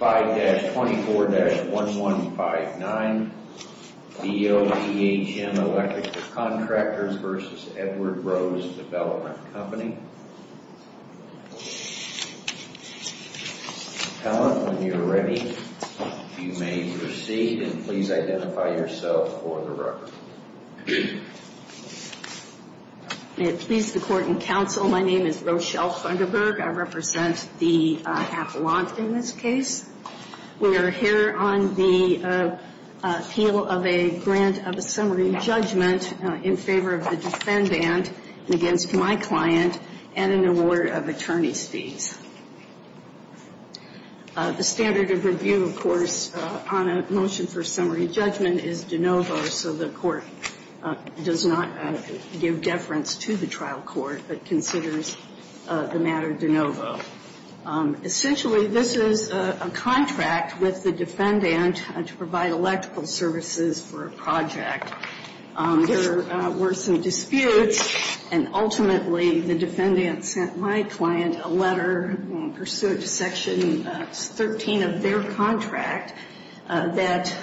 5-24-1159, Boehm Electrical Contractors v. Edward Rose Development Co., LLC When you are ready, you may proceed and please identify yourself for the record. May it please the Court and Counsel, my name is Rochelle Funderburg. I represent the affluent in this case. We are here on the appeal of a grant of a summary judgment in favor of the defendant against my client and an award of attorney's fees. The standard of review, of course, on a motion for summary judgment is de novo, so the Court does not give deference to the trial court but considers the matter de novo. Essentially, this is a contract with the defendant to provide electrical services for a project. There were some disputes, and ultimately the defendant sent my client a letter in pursuit of Section 13 of their contract that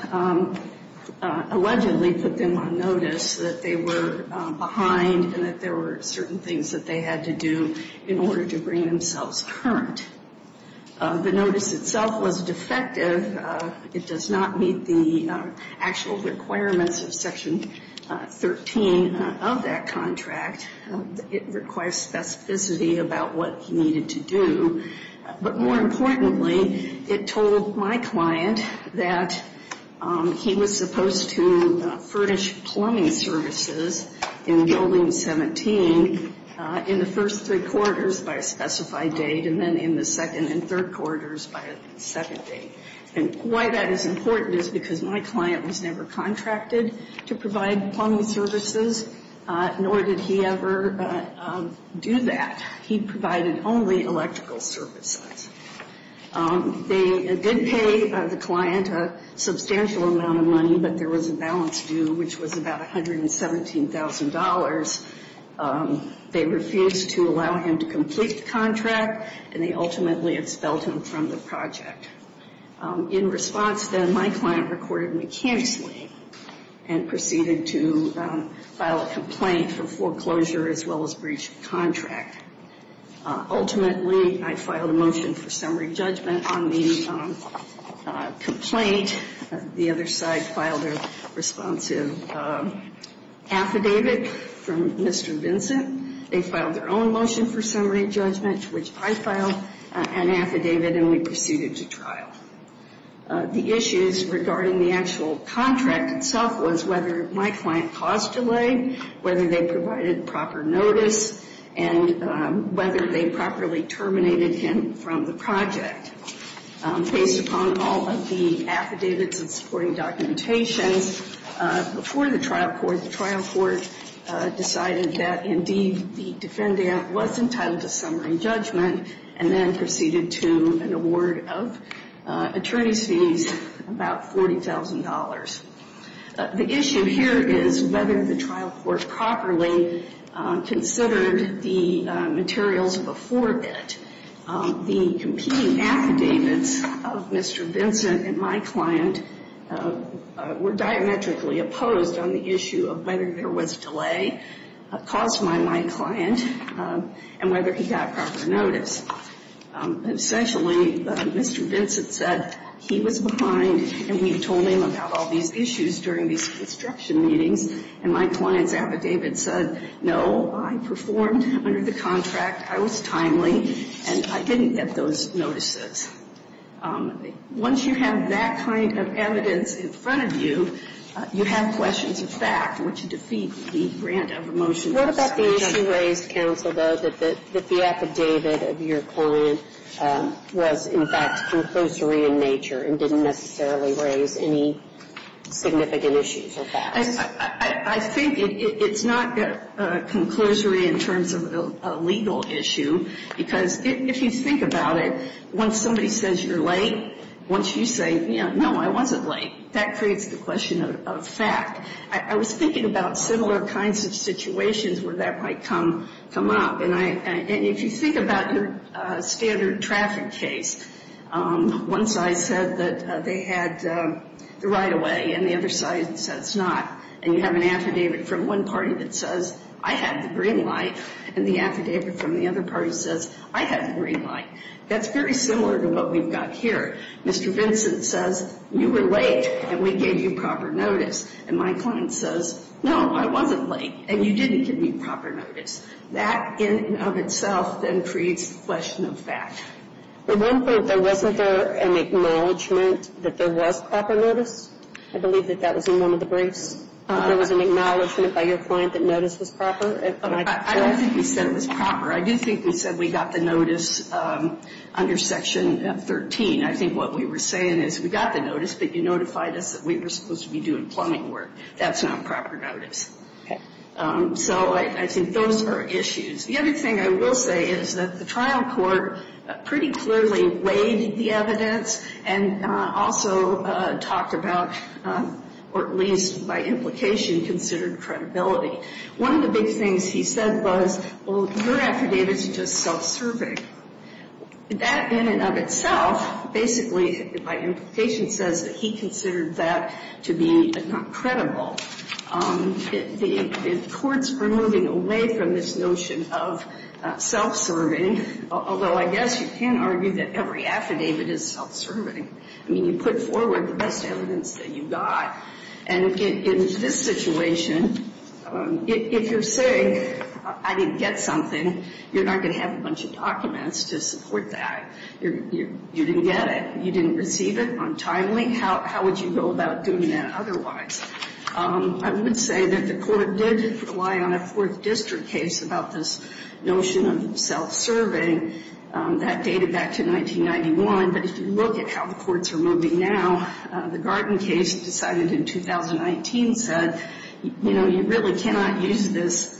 allegedly put them on notice that they were behind and that there were certain things that they had to do in order to bring themselves current. The notice itself was defective. It does not meet the actual requirements of Section 13 of that contract. It requires specificity about what he needed to do. But more importantly, it told my client that he was supposed to furnish plumbing services in Building 17 in the first three quarters by a specified date and then in the second quarter. And why that is important is because my client was never contracted to provide plumbing services, nor did he ever do that. He provided only electrical services. They did pay the client a substantial amount of money, but there was a balance due, which was about $117,000. They refused to allow him to complete the contract, and they ultimately expelled him from the project. In response, then, my client recorded me cancelling and proceeded to file a complaint for foreclosure as well as breach of contract. Ultimately, I filed a motion for summary judgment on the complaint. The other side filed a responsive affidavit. They filed their own motion for summary judgment, which I filed an affidavit, and we proceeded to trial. The issues regarding the actual contract itself was whether my client caused delay, whether they provided proper notice, and whether they properly terminated him from the project. Based upon all of the affidavits and supporting documentations, before the trial court, the trial court decided that my client was not eligible for the contract. It decided that, indeed, the defendant was entitled to summary judgment and then proceeded to an award of attorney's fees, about $40,000. The issue here is whether the trial court properly considered the materials before it. The competing affidavits of Mr. Vincent and my client were diametrically opposed on the issue of whether there was delay. The issue here is whether my client was entitled to summary judgment and whether they provided proper notice. Essentially, Mr. Vincent said he was behind and we told him about all these issues during these construction meetings, and my client's affidavit said, no, I performed under the contract, I was timely, and I didn't get those notices. Once you have that kind of evidence in front of you, you have questions of fact, which defeat the granted. What about the issue raised, counsel, though, that the affidavit of your client was, in fact, conclusory in nature and didn't necessarily raise any significant issues or facts? I think it's not conclusory in terms of a legal issue, because if you think about it, once somebody says you're late, once you say, you know, no, I wasn't late, that creates the question of fact. I was thinking about similar kinds of situations where that might come up. And if you think about your standard traffic case, once I said that they had the right-of-way and the other side says not, and you have an affidavit from one party that says, I had the green light, and the affidavit from the other party says, I had the green light, that's very similar to what we've got here. Mr. Vincent says, you were late, and we gave you proper notice. And my client says, no, I wasn't late, and you didn't give me proper notice. That in and of itself then creates a question of fact. At one point, there wasn't an acknowledgment that there was proper notice? I believe that that was in one of the briefs. There was an acknowledgment by your client that notice was proper? I don't think we said it was proper. I do think we said we got the notice under Section 13. I think what we were saying is we got the notice, but you notified us that we were supposed to be doing plumbing work. That's not proper notice. So I think those are issues. The other thing I will say is that the trial court pretty clearly weighed the evidence and also talked about, or at least by implication, considered credibility. One of the big things he said was, well, your affidavit is just self-serving. That in and of itself basically, by implication, says that he considered that to be not credible. The courts were moving away from this notion of self-serving, although I guess you can argue that every affidavit is self-serving. I mean, you put forward the best evidence that you got, and in this situation, if you're saying I didn't get something, you're not going to have a bunch of documents to support that. You didn't get it. You didn't receive it on time. How would you go about doing that otherwise? I would say that the court did rely on a Fourth District case about this notion of self-serving. That dated back to 1991, but if you look at how the courts are moving now, the Garden case decided in 2019 said, you know, you really cannot use this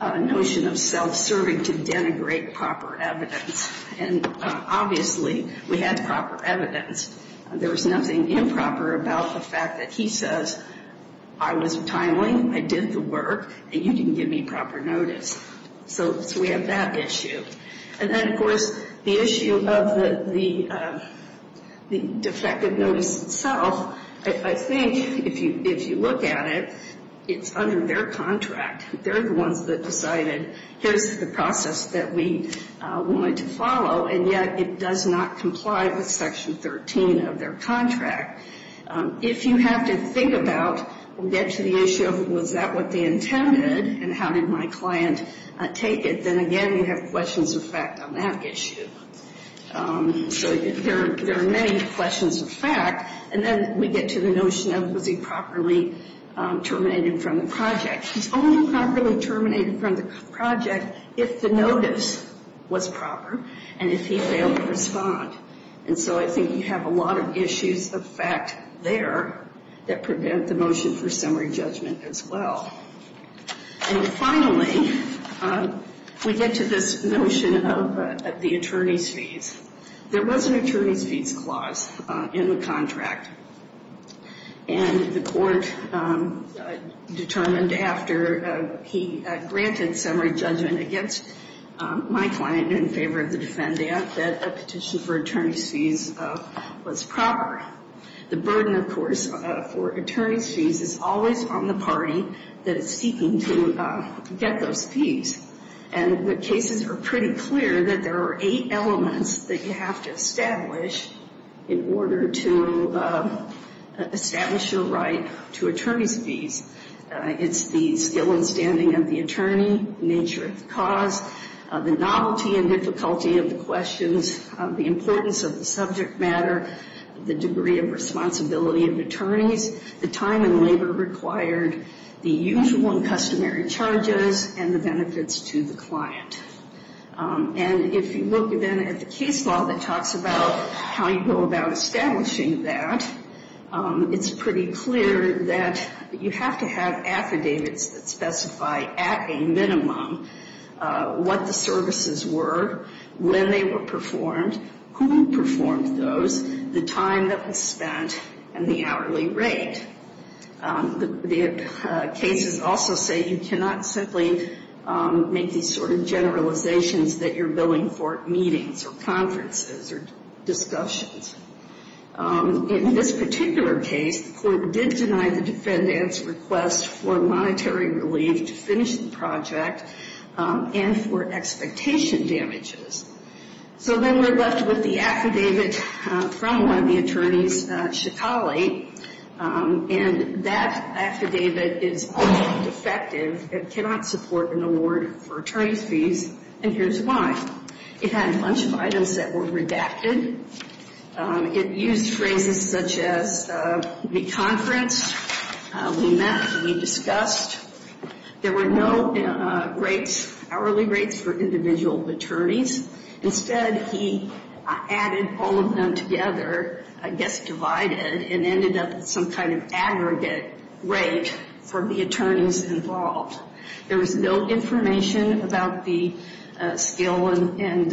notion of self-serving to denigrate proper evidence. And obviously, we had proper evidence. There was nothing improper about the fact that he says I was timely, I did the work, and you didn't give me proper notice. So we have that issue. And then, of course, the issue of the defective notice itself, I think if you look at it, it's under their contract. They're the ones that decided here's the process that we wanted to follow, and yet it does not comply with Section 13 of their contract. If you have to think about or get to the issue of was that what they intended and how did my client take it, then, again, you have questions of fact on that issue. So there are many questions of fact. And then we get to the notion of was he properly terminated from the project. He's only properly terminated from the project if the notice was proper and if he failed to respond. And so I think you have a lot of issues of fact there that prevent the motion for summary judgment as well. And finally, we get to this notion of the attorney's fees. There was an attorney's fees clause in the contract, and the court determined after he granted summary judgment against my client in favor of the defendant that a petition for attorney's fees was proper. The burden, of course, for attorney's fees is always on the party that is seeking to get those fees. And the cases are pretty clear that there are eight elements that you have to establish in order to establish your right to attorney's fees. It's the skill and standing of the attorney, nature of the cause, the novelty and difficulty of the questions, the importance of the subject matter, the degree of responsibility of attorneys, the time and labor required, the usual and customary charges, and the benefits to the client. And if you look then at the case law that talks about how you go about establishing that, it's pretty clear that you have to have affidavits that specify at a minimum what the services were, when they were performed, who performed those, the time that was spent, and the hourly rate. The cases also say you cannot simply make these sort of generalizations that you're billing for meetings or conferences or discussions. In this particular case, the court did deny the defendant's request for monetary relief to finish the project and for expectation damages. So then we're left with the affidavit from one of the attorneys, Shikali, and that affidavit is also defective. It cannot support an award for attorney's fees, and here's why. It had a bunch of items that were redacted. It used phrases such as, we conferenced, we met, we discussed. There were no rates, hourly rates, for individual attorneys. Instead, he added all of them together, I guess divided, and ended up with some kind of aggregate rate for the attorneys involved. There was no information about the skill and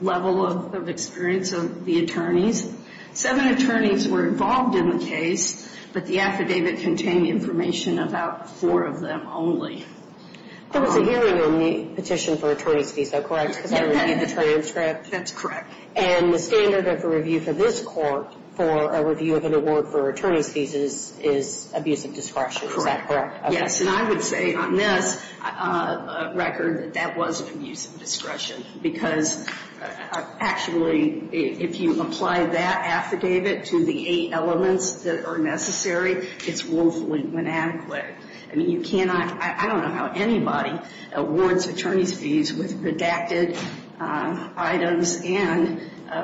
level of experience of the attorneys. Seven attorneys were involved in the case, but the affidavit contained information about four of them only. There was a hearing on the petition for attorney's fees, though, correct? Yes. Because I reviewed the training transcript. That's correct. And the standard of a review for this court for a review of an award for attorney's fees is abuse of discretion. Correct. Is that correct? Yes, and I would say on this record that that was abuse of discretion because actually if you apply that affidavit to the eight elements that are necessary, it's woefully inadequate. I mean, you cannot, I don't know how anybody awards attorney's fees with redacted items and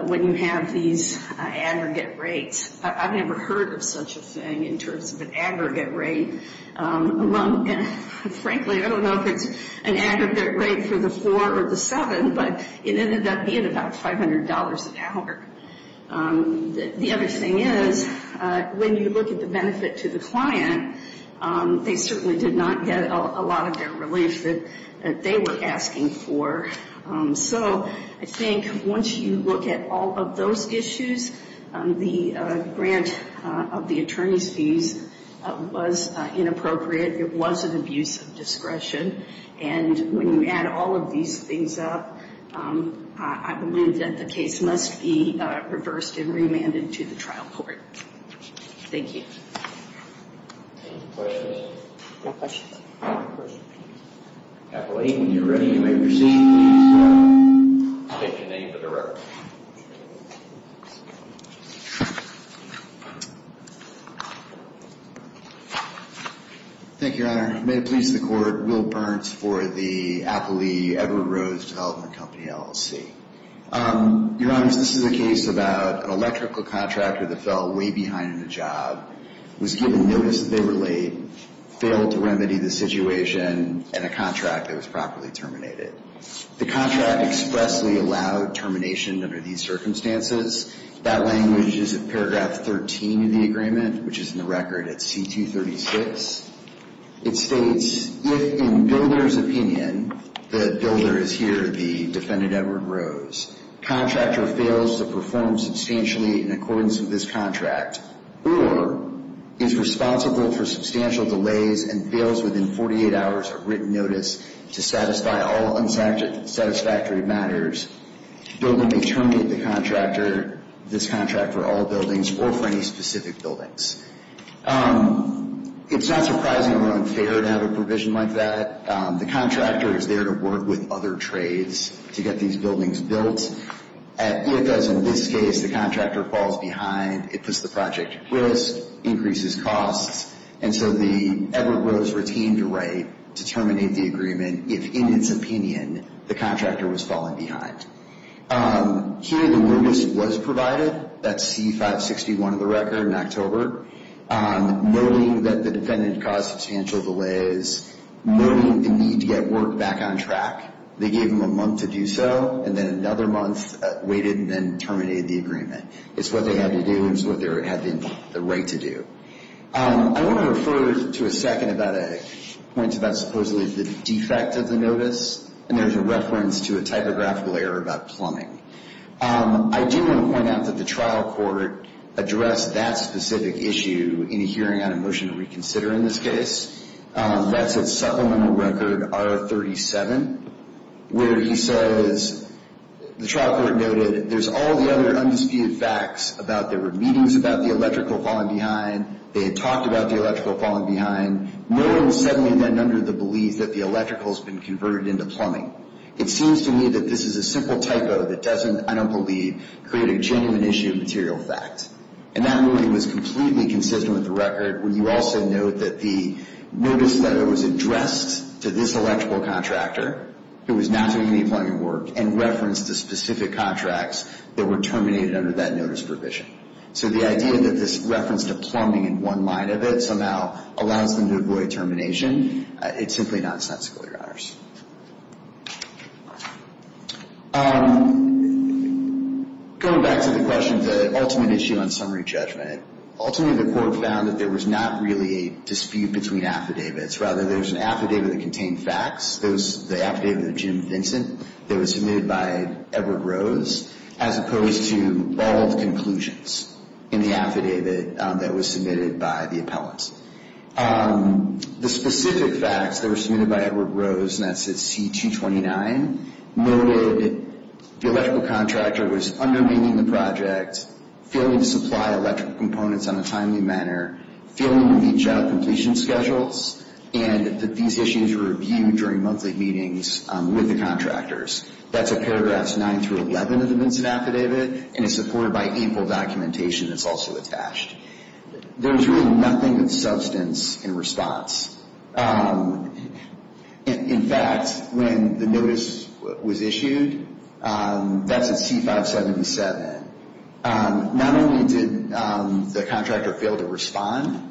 when you have these aggregate rates. I've never heard of such a thing in terms of an aggregate rate. Frankly, I don't know if it's an aggregate rate for the four or the seven, but it ended up being about $500 an hour. The other thing is when you look at the benefit to the client, they certainly did not get a lot of their relief that they were asking for. So I think once you look at all of those issues, the grant of the attorney's fees was inappropriate. It was an abuse of discretion. And when you add all of these things up, I believe that the case must be reversed and remanded to the trial court. Thank you. Any questions? No questions. Appellee, when you're ready, you may proceed. Please state your name for the record. Thank you, Your Honor. May it please the Court, Will Burns for the Appellee Everett Rose Development Company, LLC. Your Honors, this is a case about an electrical contractor that fell way behind in a job, was given notice that they were late, failed to remedy the situation, and a contract that was properly terminated. The contract expressly allowed termination under these circumstances. That language is in paragraph 13 of the agreement, which is in the record at C236. It states, if in builder's opinion, the builder is here, the defendant, Everett Rose, contractor fails to perform substantially in accordance with this contract, or is responsible for substantial delays and fails within 48 hours of written notice to satisfy all unsatisfactory matters, builder may terminate this contract for all buildings or for any specific buildings. It's not surprising or unfair to have a provision like that. The contractor is there to work with other trades to get these buildings built. If, as in this case, the contractor falls behind, it puts the project at risk, increases costs, and so the Everett Rose retained a right to terminate the agreement if, in its opinion, the contractor was falling behind. Here, the notice was provided, that's C561 of the record in October, noting that the defendant caused substantial delays, noting the need to get work back on track. They gave him a month to do so, and then another month waited and then terminated the agreement. It's what they had to do, and it's what they had the right to do. I want to refer to a second about a point about supposedly the defect of the notice, and there's a reference to a typographical error about plumbing. I do want to point out that the trial court addressed that specific issue in a hearing on a motion to reconsider in this case. That's at supplemental record R37, where he says, the trial court noted, there's all the other undisputed facts about there were meetings about the electrical falling behind, they had talked about the electrical falling behind, noting suddenly then under the belief that the electrical has been converted into plumbing. It seems to me that this is a simple typo that doesn't, I don't believe, create a genuine issue of material fact. And that ruling was completely consistent with the record, where you also note that the notice letter was addressed to this electrical contractor, who was not doing any plumbing work, and referenced to specific contracts that were terminated under that notice provision. So the idea that this reference to plumbing in one line of it somehow allows them to avoid termination, it's simply not sensical, Your Honors. Going back to the question of the ultimate issue on summary judgment, ultimately the court found that there was not really a dispute between affidavits. Rather, there was an affidavit that contained facts. There was the affidavit of Jim Vincent that was submitted by Edward Rose, as opposed to bald conclusions in the affidavit that was submitted by the appellant. The specific facts that were submitted by Edward Rose, and that's at C-229, noted the electrical contractor was undermining the project, failing to supply electrical components in a timely manner, failing to meet job completion schedules, and that these issues were reviewed during monthly meetings with the contractors. That's at paragraphs 9 through 11 of the Vincent Affidavit, and it's supported by ample documentation that's also attached. There was really nothing of substance in response. In fact, when the notice was issued, that's at C-577, not only did the contractor fail to respond,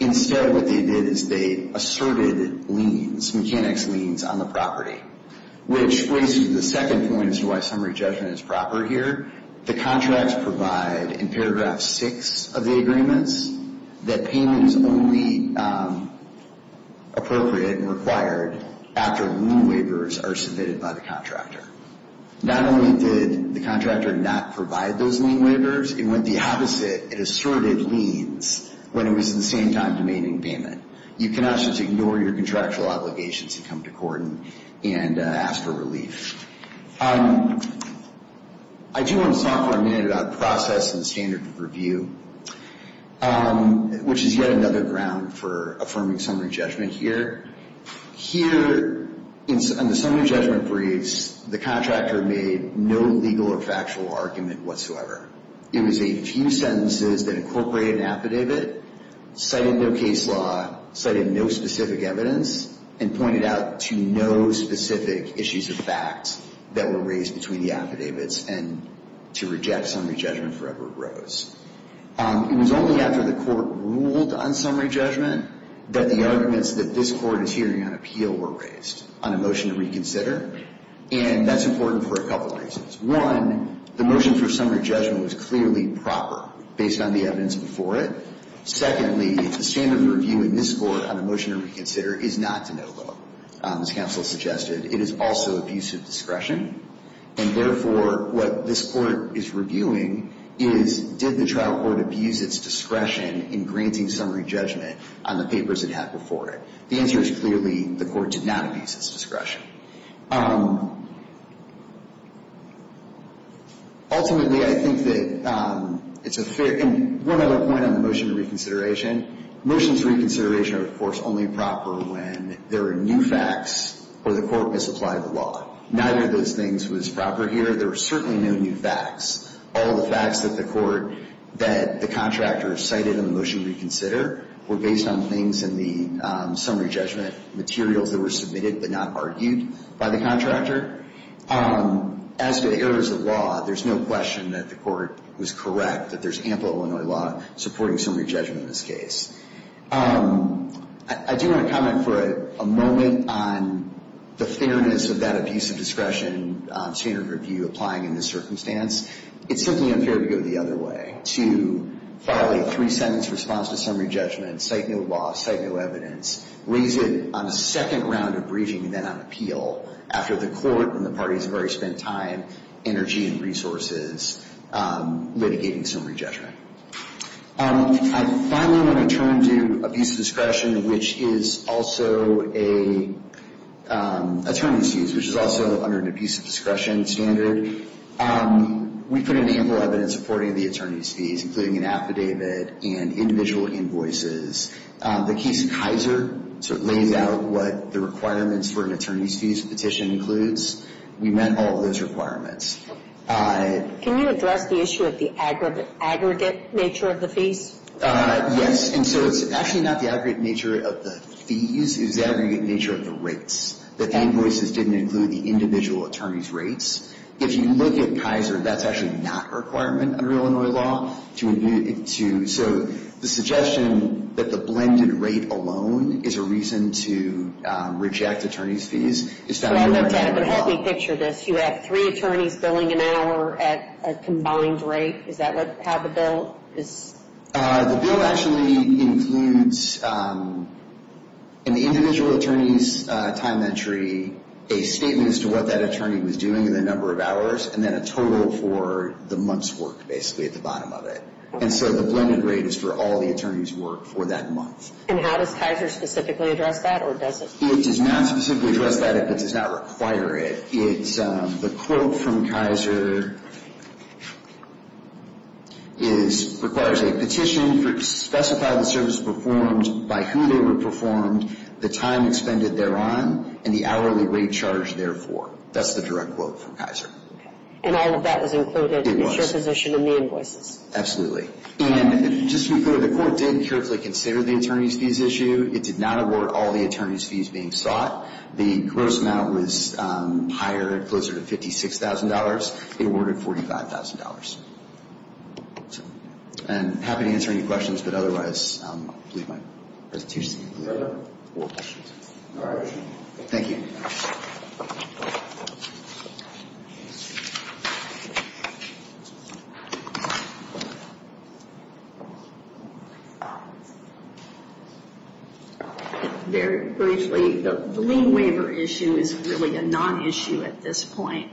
instead what they did is they asserted liens, mechanics liens, on the property, which brings me to the second point as to why summary judgment is proper here. The contracts provide, in paragraph 6 of the agreements, that payment is only appropriate and required after lien waivers are submitted by the contractor. Not only did the contractor not provide those lien waivers, it went the opposite. It asserted liens when it was at the same time demanding payment. You cannot just ignore your contractual obligations to come to court and ask for relief. I do want to talk for a minute about process and standard of review, which is yet another ground for affirming summary judgment here. Here, in the summary judgment briefs, the contractor made no legal or factual argument whatsoever. It was a few sentences that incorporated an affidavit, cited no case law, cited no specific evidence, and pointed out to no specific issues of fact that were raised between the affidavits and to reject summary judgment for Edward Rose. It was only after the court ruled on summary judgment that the arguments that this Court is hearing on appeal were raised on a motion to reconsider, and that's important for a couple of reasons. One, the motion for summary judgment was clearly proper based on the evidence before it. Secondly, the standard of review in this Court on a motion to reconsider is not to no vote. As counsel suggested, it is also abuse of discretion, and therefore what this Court is reviewing is did the trial court abuse its discretion in granting summary judgment on the papers it had before it. The answer is clearly the court did not abuse its discretion. Ultimately, I think that it's a fair, and one other point on the motion to reconsideration, motions to reconsideration are, of course, only proper when there are new facts or the court misapplied the law. Neither of those things was proper here. There were certainly no new facts. All the facts that the court, that the contractor cited in the motion to reconsider were based on things in the summary judgment, materials that were submitted but not argued by the contractor. As to the errors of law, there's no question that the court was correct, that there's ample Illinois law supporting summary judgment in this case. I do want to comment for a moment on the fairness of that abuse of discretion standard of review applying in this circumstance. It's simply unfair to go the other way, to file a three-sentence response to summary judgment, cite no law, cite no evidence, raise it on a second round of briefing and then on appeal after the court and the parties have already spent time, energy, and resources litigating summary judgment. I finally want to turn to abuse of discretion, which is also an attorney's fees, which is also under an abuse of discretion standard. We put in ample evidence supporting the attorney's fees, including an affidavit and individual invoices. The case of Kaiser sort of lays out what the requirements for an attorney's fees petition includes. We met all of those requirements. Can you address the issue of the aggregate nature of the fees? Yes. And so it's actually not the aggregate nature of the fees. It's the aggregate nature of the rates, that the invoices didn't include the individual attorney's rates. If you look at Kaiser, that's actually not a requirement under Illinois law. So the suggestion that the blended rate alone is a reason to reject attorney's fees is found in Illinois law. I looked at it, but help me picture this. You have three attorneys billing an hour at a combined rate. Is that how the bill is? The bill actually includes in the individual attorney's time entry a statement as to what that attorney was doing in the number of hours, and then a total for the month's work, basically, at the bottom of it. And so the blended rate is for all the attorney's work for that month. And how does Kaiser specifically address that, or does it? It does not specifically address that if it does not require it. The quote from Kaiser requires a petition to specify the service performed, by who they were performed, the time expended thereon, and the hourly rate charged therefore. That's the direct quote from Kaiser. Okay. And all of that was included in your position in the invoices? Absolutely. And just to be clear, the court did carefully consider the attorney's fees issue. It did not award all the attorney's fees being sought. The gross amount was higher, closer to $56,000. It awarded $45,000. And I'm happy to answer any questions, but otherwise, I believe my presentation is concluded. All right. Thank you. Very briefly, the lien waiver issue is really a non-issue at this point.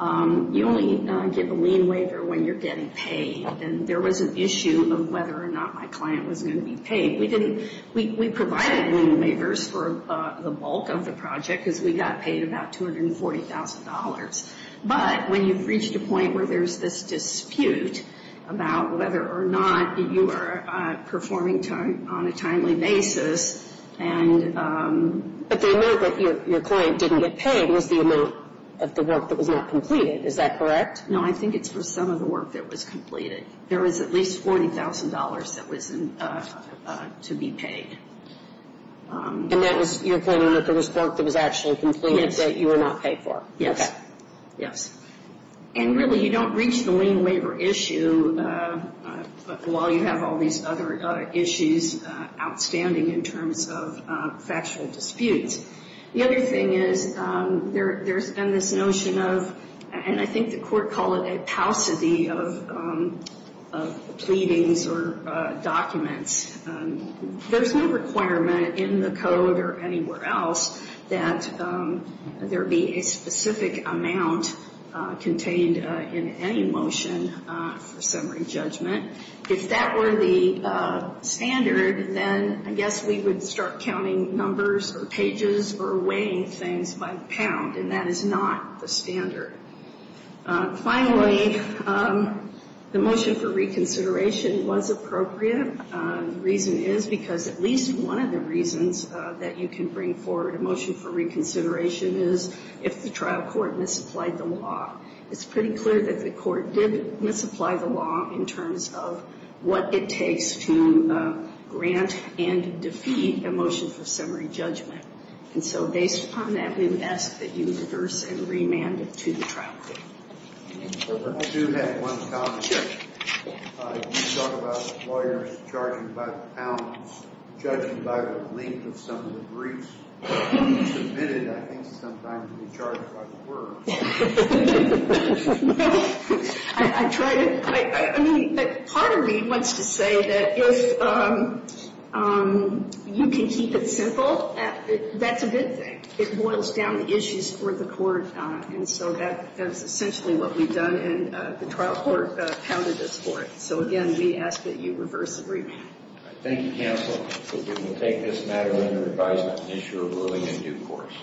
You only get a lien waiver when you're getting paid. And there was an issue of whether or not my client was going to be paid. We provided lien waivers for the bulk of the project, because we got paid about $240,000. But when you've reached a point where there's this dispute about whether or not you are performing on a timely basis. But the amount that your client didn't get paid was the amount of the work that was not completed. Is that correct? No. I think it's for some of the work that was completed. There was at least $40,000 that was to be paid. And that was, you're claiming that there was work that was actually completed that you were not paid for. Okay. Yes. And really, you don't reach the lien waiver issue while you have all these other issues outstanding in terms of factual disputes. The other thing is there's been this notion of, and I think the court called it a paucity of pleadings or documents. There's no requirement in the code or anywhere else that there be a specific amount contained in any motion for summary judgment. If that were the standard, then I guess we would start counting numbers or pages or weighing things by the pound. And that is not the standard. Finally, the motion for reconsideration was appropriate. The reason is because at least one of the reasons that you can bring forward a motion for reconsideration is if the trial court misapplied the law. It's pretty clear that the court did misapply the law in terms of what it takes to grant and defeat a motion for summary judgment. And so based upon that, we would ask that you reverse and remand it to the trial court. I do have one comment. You talk about lawyers charging by the pounds. Judging by the length of some of the briefs submitted, I think sometimes we charge by the words. I try to, I mean, part of me wants to say that if you can keep it simple, that's a good thing. It boils down to issues for the court. And so that is essentially what we've done. And the trial court pounded us for it. So again, we ask that you reverse and remand. Thank you, counsel. We will take this matter under advisement and issue a ruling in due course.